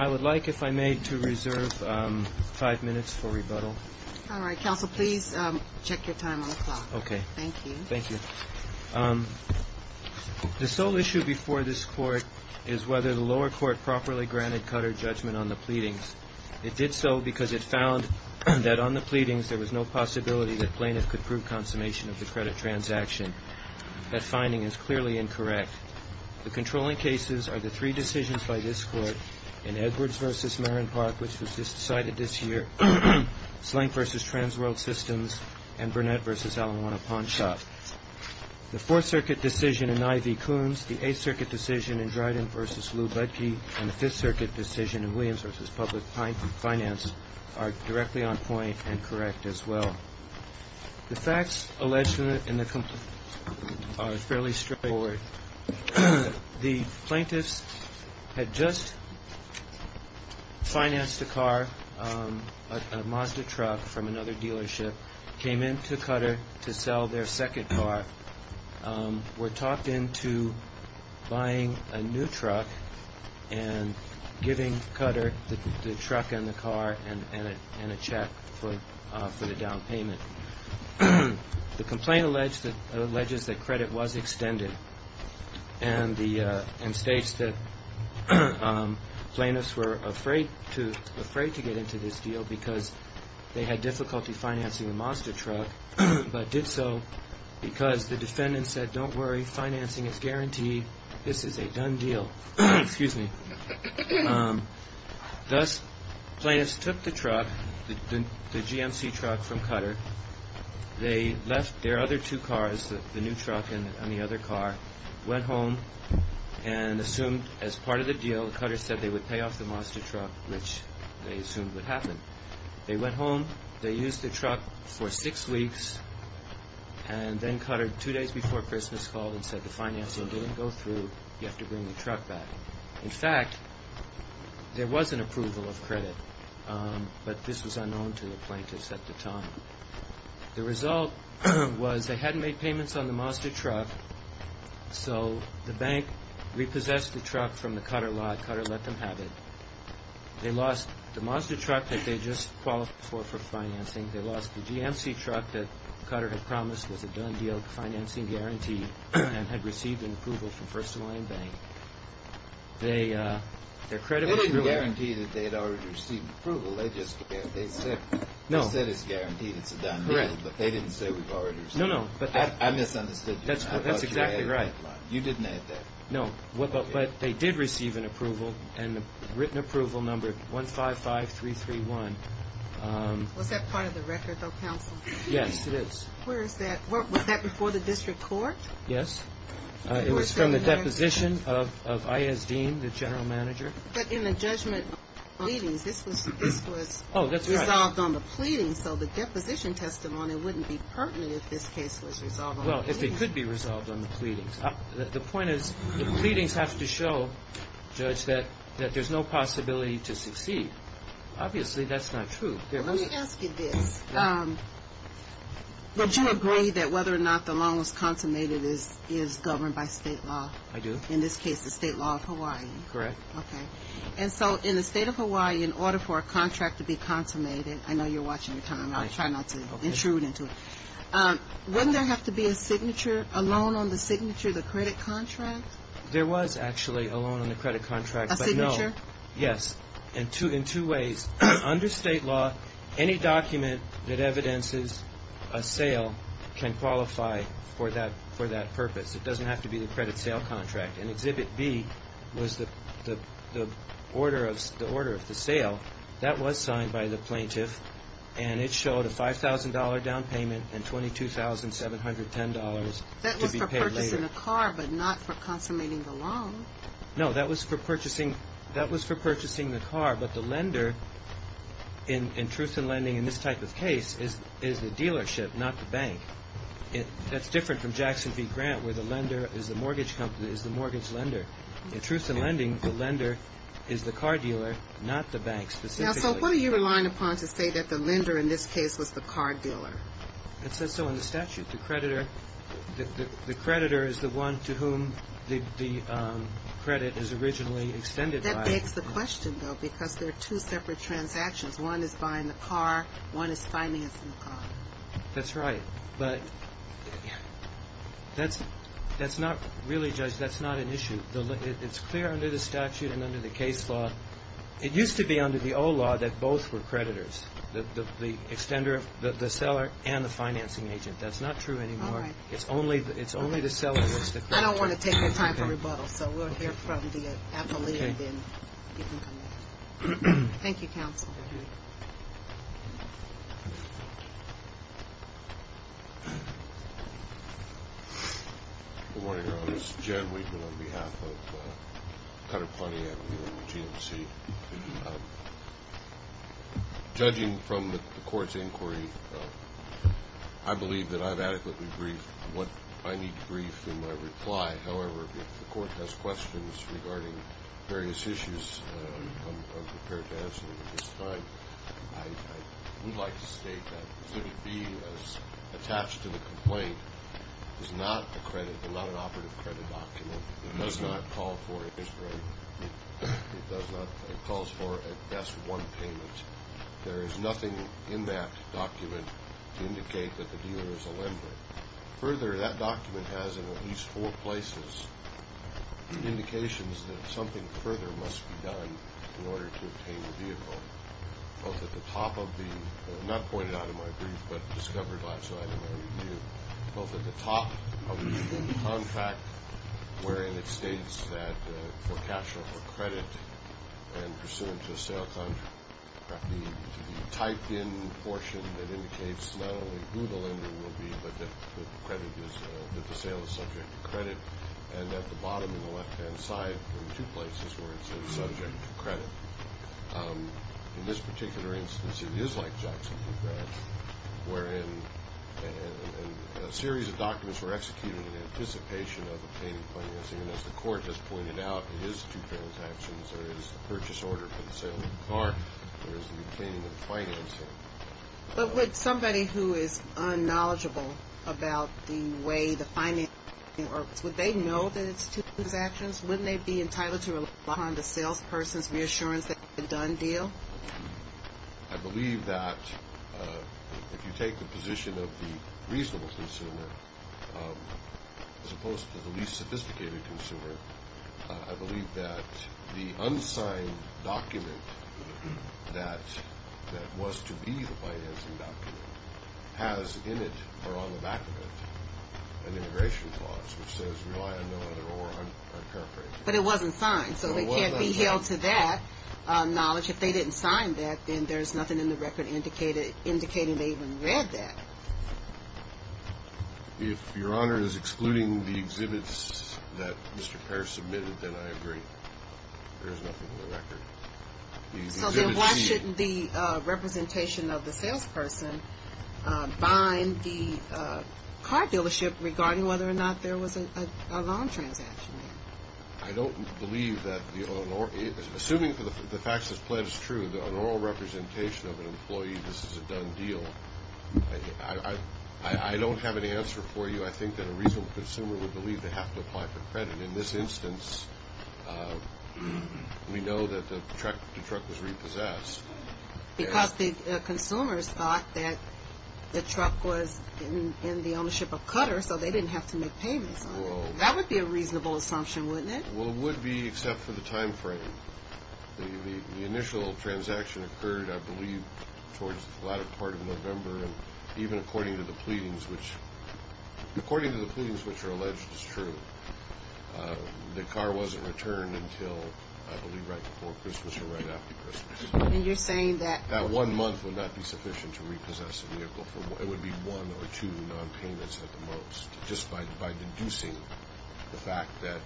I would like, if I may, to reserve five minutes for rebuttal. All right. Counsel, please check your time on the clock. Okay. Thank you. Thank you. The sole issue before this Court is whether the lower court properly granted Cutter judgment on the pleadings. It did so because it found that on the pleadings there was no possibility that plaintiffs could prove consummation of the credit transaction. That finding is clearly incorrect. The controlling cases are the three decisions by this Court in Edwards v. Marron Park, which was decided this year, Slank v. Transworld Systems, and Burnett v. Alijuana Pawn Shop. The Fourth Circuit decision in I. V. Coons, the Eighth Circuit decision in Dryden v. Lou Budkey, and the Fifth Circuit decision in Williams v. Public Finance are directly on point and correct as well. The facts alleged in the complaint are fairly straightforward. The plaintiffs had just financed a car, a Mazda truck from another dealership, came into Cutter to sell their second car, were talked into buying a new truck and giving Cutter the truck and the car and a check for the down payment. The complaint alleges that credit was extended and states that plaintiffs were afraid to get into this deal because they had difficulty financing a Mazda truck, but did so because the defendant said, don't worry, financing is guaranteed, this is a done deal. Thus, plaintiffs took the truck, the GMC truck from Cutter, they left their other two cars, the new truck and the other car, went home and assumed as part of the deal, Cutter said they would pay off the Mazda truck, which they assumed would happen. They went home, they used the truck for six weeks and then Cutter, two days before Christmas, called and said the financing didn't go through, you have to bring the truck back. In fact, there was an approval of credit, but this was unknown to the plaintiffs at the time. The result was they hadn't made payments on the Mazda truck, so the bank repossessed the truck from the Cutter lot, Cutter let them have it. They lost the Mazda truck that they had just qualified for financing, they lost the GMC truck that Cutter had promised was a done deal financing guarantee and had received an approval from First of Alliance Bank. They're credible. They didn't guarantee that they had already received approval, they just said it's guaranteed, it's a done deal. Correct. But they didn't say we've already received approval. No, no. I misunderstood you. That's exactly right. You didn't add that. No, but they did receive an approval and the written approval number 155331. Was that part of the record, though, counsel? Yes, it is. Where is that? Was that before the district court? Yes. It was from the deposition of I.S. Dean, the general manager. But in the judgment of pleadings, this was resolved on the pleadings, so the deposition testimony wouldn't be pertinent if this case was resolved on the pleadings. Well, if it could be resolved on the pleadings. The point is the pleadings have to show, Judge, that there's no possibility to succeed. Obviously that's not true. Let me ask you this. Would you agree that whether or not the loan was consummated is governed by state law? I do. In this case, the state law of Hawaii. Correct. Okay. And so in the state of Hawaii, in order for a contract to be consummated, I know you're watching the time. I'll try not to intrude into it. Wouldn't there have to be a signature, a loan on the signature, the credit contract? There was actually a loan on the credit contract, but no. A signature? Yes. In two ways. Under state law, any document that evidences a sale can qualify for that purpose. It doesn't have to be the credit sale contract. And Exhibit B was the order of the sale. That was signed by the plaintiff, and it showed a $5,000 down payment and $22,710 to be paid later. That was for purchasing a car, but not for consummating the loan. No. That was for purchasing the car. But the lender, in truth and lending in this type of case, is the dealership, not the bank. That's different from Jackson v. Grant, where the lender is the mortgage lender. In truth and lending, the lender is the car dealer, not the bank specifically. Now, so what are you relying upon to say that the lender in this case was the car dealer? It says so in the statute. The creditor is the one to whom the credit is originally extended by. That begs the question, though, because there are two separate transactions. One is buying the car. One is financing the car. That's right. But that's not really, Judge, that's not an issue. It's clear under the statute and under the case law. It used to be under the old law that both were creditors, the seller and the financing agent. That's not true anymore. All right. It's only the seller that's the creditor. I don't want to take any time for rebuttal, so we'll hear from the appellate, and then you can come back. Thank you, counsel. Good morning, Your Honor. This is Jan Weekman on behalf of Cutter Plenty and GMC. Judging from the court's inquiry, I believe that I've adequately briefed what I need to brief in my reply. However, if the court has questions regarding various issues, I'm prepared to answer them at this time. I would like to state that exhibit B, as attached to the complaint, is not a credit, not an operative credit document. It does not call for it. It does not. It calls for at best one payment. There is nothing in that document to indicate that the dealer is a lender. Further, that document has, in at least four places, indications that something further must be done in order to obtain the vehicle, both at the top of the, not pointed out in my brief, but discovered by, so I don't know what to do, both at the top of the contract, wherein it states that for cash or credit and pursuant to a sale contract, the typed-in portion that indicates not only who the lender will be, but that the sale is subject to credit, and at the bottom on the left-hand side, in two places, where it says subject to credit. In this particular instance, it is like Jackson v. Branch, wherein a series of documents were executed in anticipation of obtaining financing, and as the court has pointed out, it is two transactions. There is the purchase order for the sale of the car. There is the obtaining of financing. But would somebody who is unknowledgeable about the way the financing works, would they know that it's two transactions? Wouldn't they be entitled to rely upon the salesperson's reassurance that it's a done deal? I believe that if you take the position of the reasonable consumer, as opposed to the least sophisticated consumer, I believe that the unsigned document that was to be the financing document has in it or on the back of it an immigration clause, which says rely on no other or unparaphrased. But it wasn't signed, so it can't be held to that knowledge. If they didn't sign that, then there's nothing in the record indicating they even read that. If Your Honor is excluding the exhibits that Mr. Pearce submitted, then I agree. There is nothing in the record. So then why shouldn't the representation of the salesperson bind the car dealership regarding whether or not there was a loan transaction? I don't believe that. Assuming the facts as pledged is true, the oral representation of an employee, this is a done deal. I don't have an answer for you. I think that a reasonable consumer would believe they have to apply for credit. In this instance, we know that the truck was repossessed. Because the consumers thought that the truck was in the ownership of Cutter, so they didn't have to make payments on it. That would be a reasonable assumption, wouldn't it? Well, it would be, except for the time frame. The initial transaction occurred, I believe, towards the latter part of November. And even according to the pleadings, which are alleged as true, the car wasn't returned until, I believe, right before Christmas or right after Christmas. And you're saying that? That one month would not be sufficient to repossess the vehicle. It would be one or two nonpayments at the most, just by deducing the fact that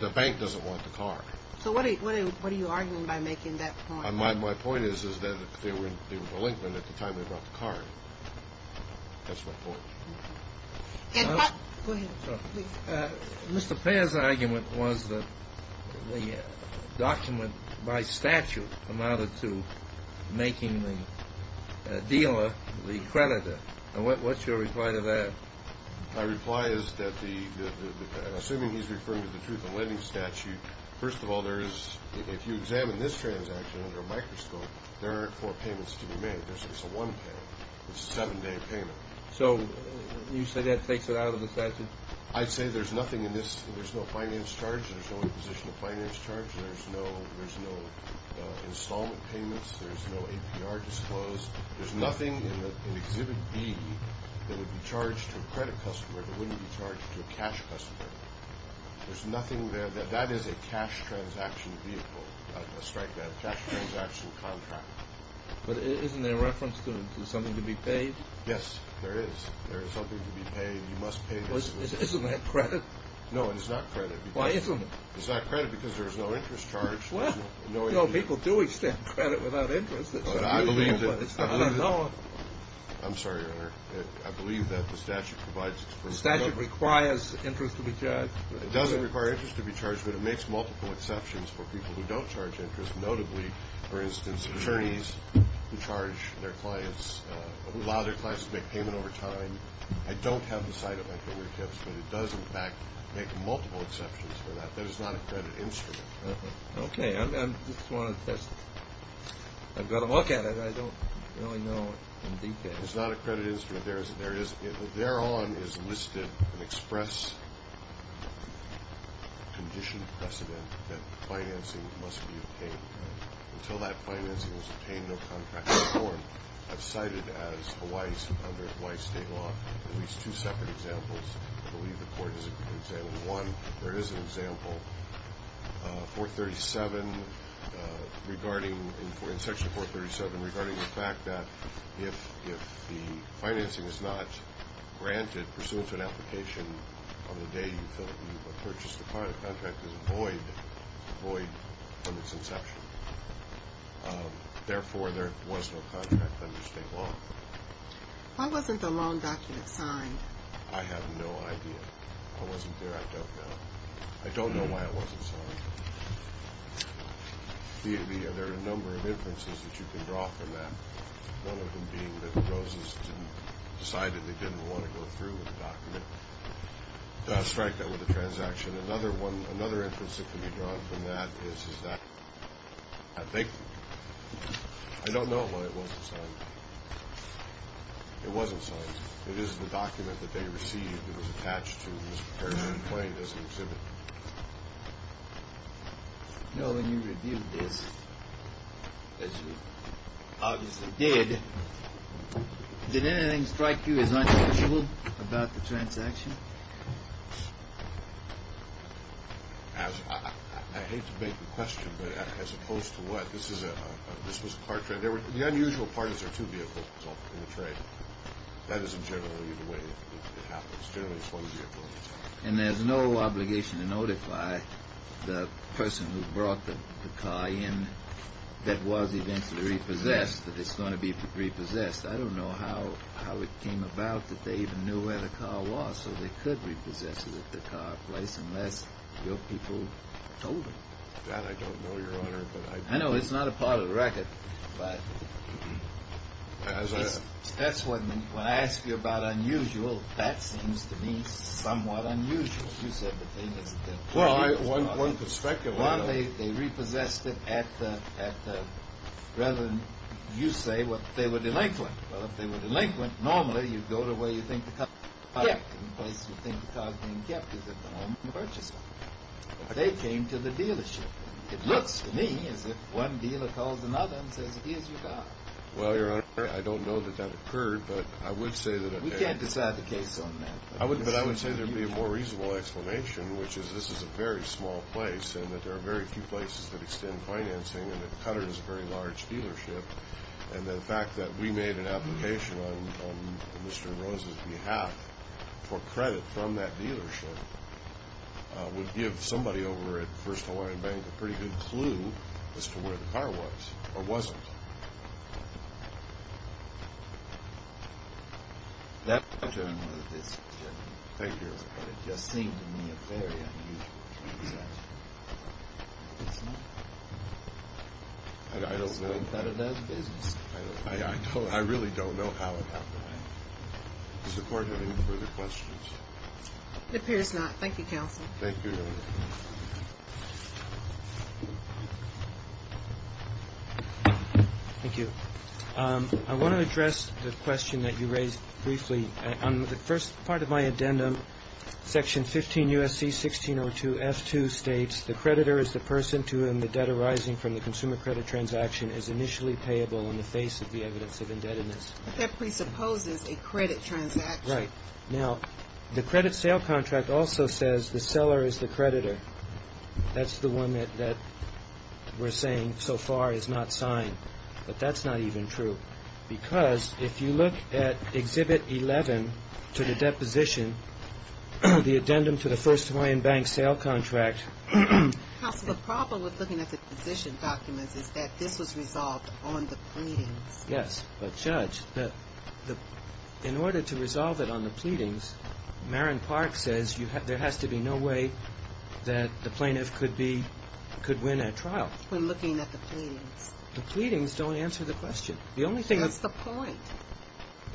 the bank doesn't want the car. So what are you arguing by making that point? My point is that they were relentless at the time they brought the car. That's my point. Go ahead. Mr. Payer's argument was that the document by statute amounted to making the dealer the creditor. What's your reply to that? My reply is that, assuming he's referring to the Truth in Lending statute, first of all, if you examine this transaction under a microscope, there aren't four payments to be made. It's a one-payment. It's a seven-day payment. So you say that takes it out of the statute? I'd say there's nothing in this. There's no finance charge. There's no imposition of finance charge. There's no installment payments. There's no APR disclosed. There's nothing in Exhibit B that would be charged to a credit customer that wouldn't be charged to a cash customer. There's nothing there. That is a cash transaction vehicle, not a strike van, a cash transaction contract. But isn't there reference to something to be paid? Yes, there is. There is something to be paid. You must pay this. Isn't that credit? No, it is not credit. Why isn't it? It's not credit because there's no interest charge. No, people do extend credit without interest. I don't know. I'm sorry, Your Honor. I believe that the statute provides it. The statute requires interest to be charged. It doesn't require interest to be charged, but it makes multiple exceptions for people who don't charge interest, notably, for instance, attorneys who charge their clients, who allow their clients to make payment over time. I don't have the site of my career tips, but it does, in fact, make multiple exceptions for that. That is not a credit instrument. Okay. I just want to test it. I've got to look at it. I don't really know in detail. It's not a credit instrument. Thereon is listed an express condition precedent that financing must be obtained. Until that financing is obtained, no contract is formed. I've cited as Hawaii's under Hawaii's state law at least two separate examples. I believe the court has examined one. There is an example, Section 437, regarding the fact that if the financing is not granted pursuant to an application on the day you purchase the contract, there's a void on its inception. Therefore, there was no contract under state law. Why wasn't the loan document signed? I have no idea. I wasn't there. I don't know. I don't know why it wasn't signed. There are a number of inferences that you can draw from that, one of them being that the roses decided they didn't want to go through with the document, strike that with a transaction. Another inference that can be drawn from that is that I don't know why it wasn't signed. It wasn't signed. It is the document that they received. It was attached to and was prepared to be claimed as an exhibit. When you reviewed this, as you obviously did, did anything strike you as unusual about the transaction? I hate to beg the question, but as opposed to what? This was a car trade. The unusual part is there are two vehicles in the trade. That isn't generally the way it happens. Generally, it's one vehicle at a time. And there's no obligation to notify the person who brought the car in that was eventually repossessed that it's going to be repossessed. I don't know how it came about that they even knew where the car was so they could repossess it at the car place unless your people told them. That I don't know, Your Honor. I know. It's not a part of the record. But that's what I mean. When I ask you about unusual, that seems to me somewhat unusual. You said that they didn't know. Well, one could speculate on that. One, they repossessed it at the rather than you say what they would delinquent. Well, if they were delinquent, normally you'd go to where you think the car was kept and the place you think the car was being kept is at the home of the purchaser. But they came to the dealership. It looks to me as if one dealer calls another and says it is your car. Well, Your Honor, I don't know that that occurred, but I would say that it did. We can't decide the case on that. But I would say there would be a more reasonable explanation, which is this is a very small place and that there are very few places that extend financing and that Cutter is a very large dealership. And the fact that we made an application on Mr. and Rose's behalf for credit from that dealership would give somebody over at First Hawaiian Bank a pretty good clue as to where the car was or wasn't. That's a general decision. Thank you, Your Honor. But it just seemed to me a very unusual transaction. It's not? I don't know. I don't think that it does business. I really don't know how it happened. Is the Court having further questions? It appears not. Thank you, Counsel. Thank you, Your Honor. Thank you. I want to address the question that you raised briefly. On the first part of my addendum, Section 15 U.S.C. 1602 F2 states, the creditor is the person to whom the debt arising from the consumer credit transaction is initially payable in the face of the evidence of indebtedness. But that presupposes a credit transaction. Right. Now, the credit sale contract also says the seller is the creditor. That's the one that we're saying so far is not signed. But that's not even true. Because if you look at Exhibit 11 to the deposition, the addendum to the First Hawaiian Bank sale contract. Counsel, the problem with looking at the position documents is that this was resolved on the pleadings. Yes. But, Judge, in order to resolve it on the pleadings, Maren Park says there has to be no way that the plaintiff could win at trial. When looking at the pleadings. The pleadings don't answer the question. That's the point.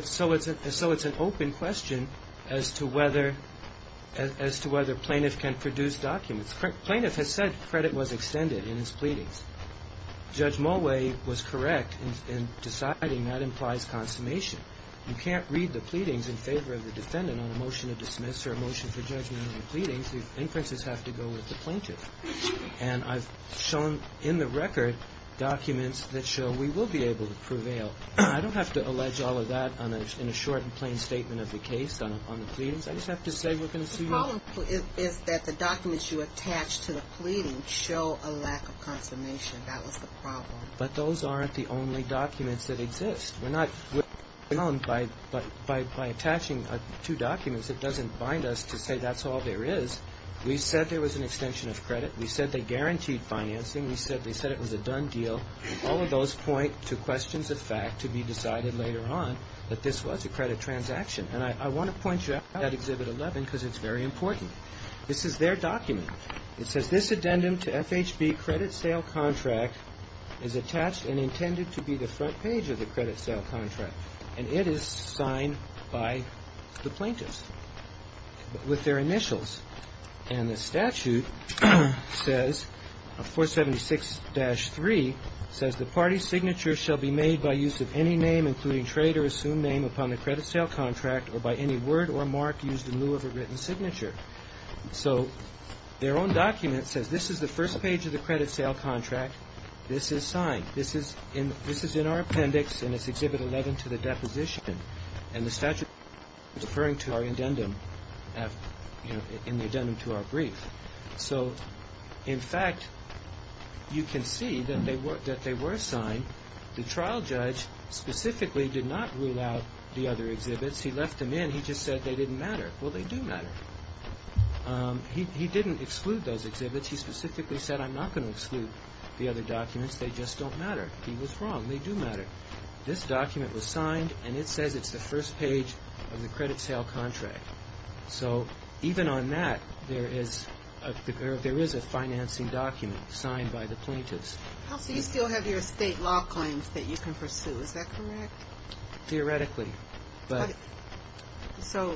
So it's an open question as to whether plaintiff can produce documents. Plaintiff has said credit was extended in his pleadings. Judge Mulway was correct in deciding that implies consummation. You can't read the pleadings in favor of the defendant on a motion to dismiss or a motion for judgment on the pleadings. The inferences have to go with the plaintiff. And I've shown in the record documents that show we will be able to prevail. I don't have to allege all of that in a short and plain statement of the case on the pleadings. I just have to say we're going to see. The problem is that the documents you attach to the pleadings show a lack of consummation. That was the problem. But those aren't the only documents that exist. We're not alone by attaching two documents. It doesn't bind us to say that's all there is. We said there was an extension of credit. We said they guaranteed financing. We said it was a done deal. All of those point to questions of fact to be decided later on that this was a credit transaction. And I want to point you out at Exhibit 11 because it's very important. This is their document. It says this addendum to FHB credit sale contract is attached and intended to be the front page of the credit sale contract. And it is signed by the plaintiffs with their initials. And the statute says 476-3 says the party's signature shall be made by use of any name including trade or assumed name upon the credit sale contract or by any word or mark used in lieu of a written signature. So their own document says this is the first page of the credit sale contract. This is signed. This is in our appendix, and it's Exhibit 11 to the deposition. And the statute is referring to our addendum in the addendum to our brief. So, in fact, you can see that they were signed. The trial judge specifically did not rule out the other exhibits. He left them in. He just said they didn't matter. Well, they do matter. He didn't exclude those exhibits. He specifically said I'm not going to exclude the other documents. They just don't matter. He was wrong. They do matter. This document was signed, and it says it's the first page of the credit sale contract. So even on that, there is a financing document signed by the plaintiffs. So you still have your estate law claims that you can pursue. Is that correct? Theoretically. So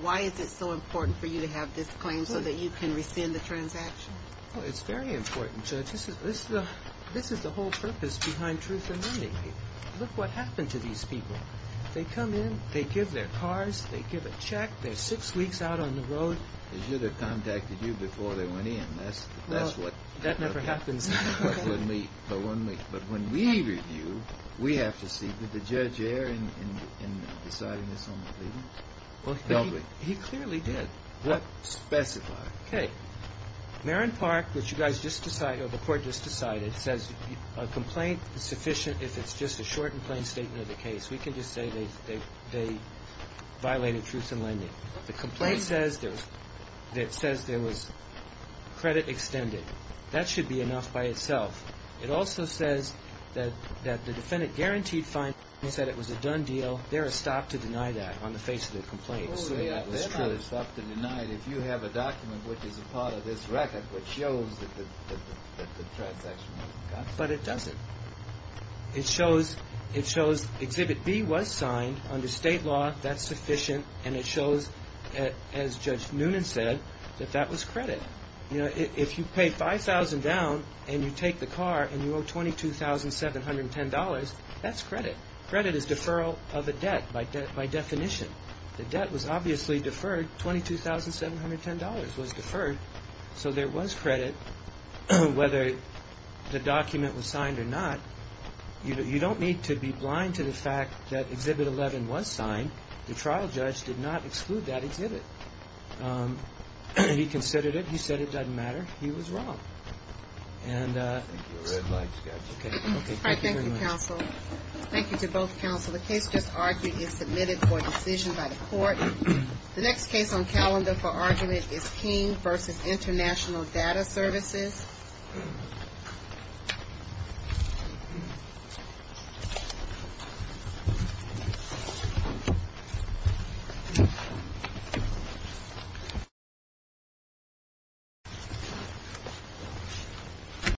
why is it so important for you to have this claim so that you can rescind the transaction? It's very important, Judge. This is the whole purpose behind truth amending. Look what happened to these people. They come in. They give their cards. They give a check. They're six weeks out on the road. They should have contacted you before they went in. That never happens. But when we review, we have to see, did the judge err in deciding this on the leave-in? He clearly did. Specify. Okay. Marin Park, which you guys just decided, or the court just decided, says a complaint is sufficient if it's just a short and plain statement of the case. We can just say they violated truth in lending. The complaint says there was credit extended. That should be enough by itself. It also says that the defendant guaranteed fine. He said it was a done deal. There is stop to deny that on the face of the complaint, assuming that was true. If you have a document which is a part of this record which shows that the transaction was done. But it doesn't. It shows Exhibit B was signed under state law. That's sufficient. And it shows, as Judge Noonan said, that that was credit. If you pay $5,000 down and you take the car and you owe $22,710, that's credit. Credit is deferral of a debt by definition. The debt was obviously deferred. $22,710 was deferred. So there was credit, whether the document was signed or not. You don't need to be blind to the fact that Exhibit 11 was signed. The trial judge did not exclude that exhibit. He considered it. He said it doesn't matter. He was wrong. Thank you very much, Judge. Okay. Thank you very much. Thank you, counsel. Thank you to both counsel. The case just argued is submitted for decision by the court. The next case on calendar for argument is King v. International Data Services.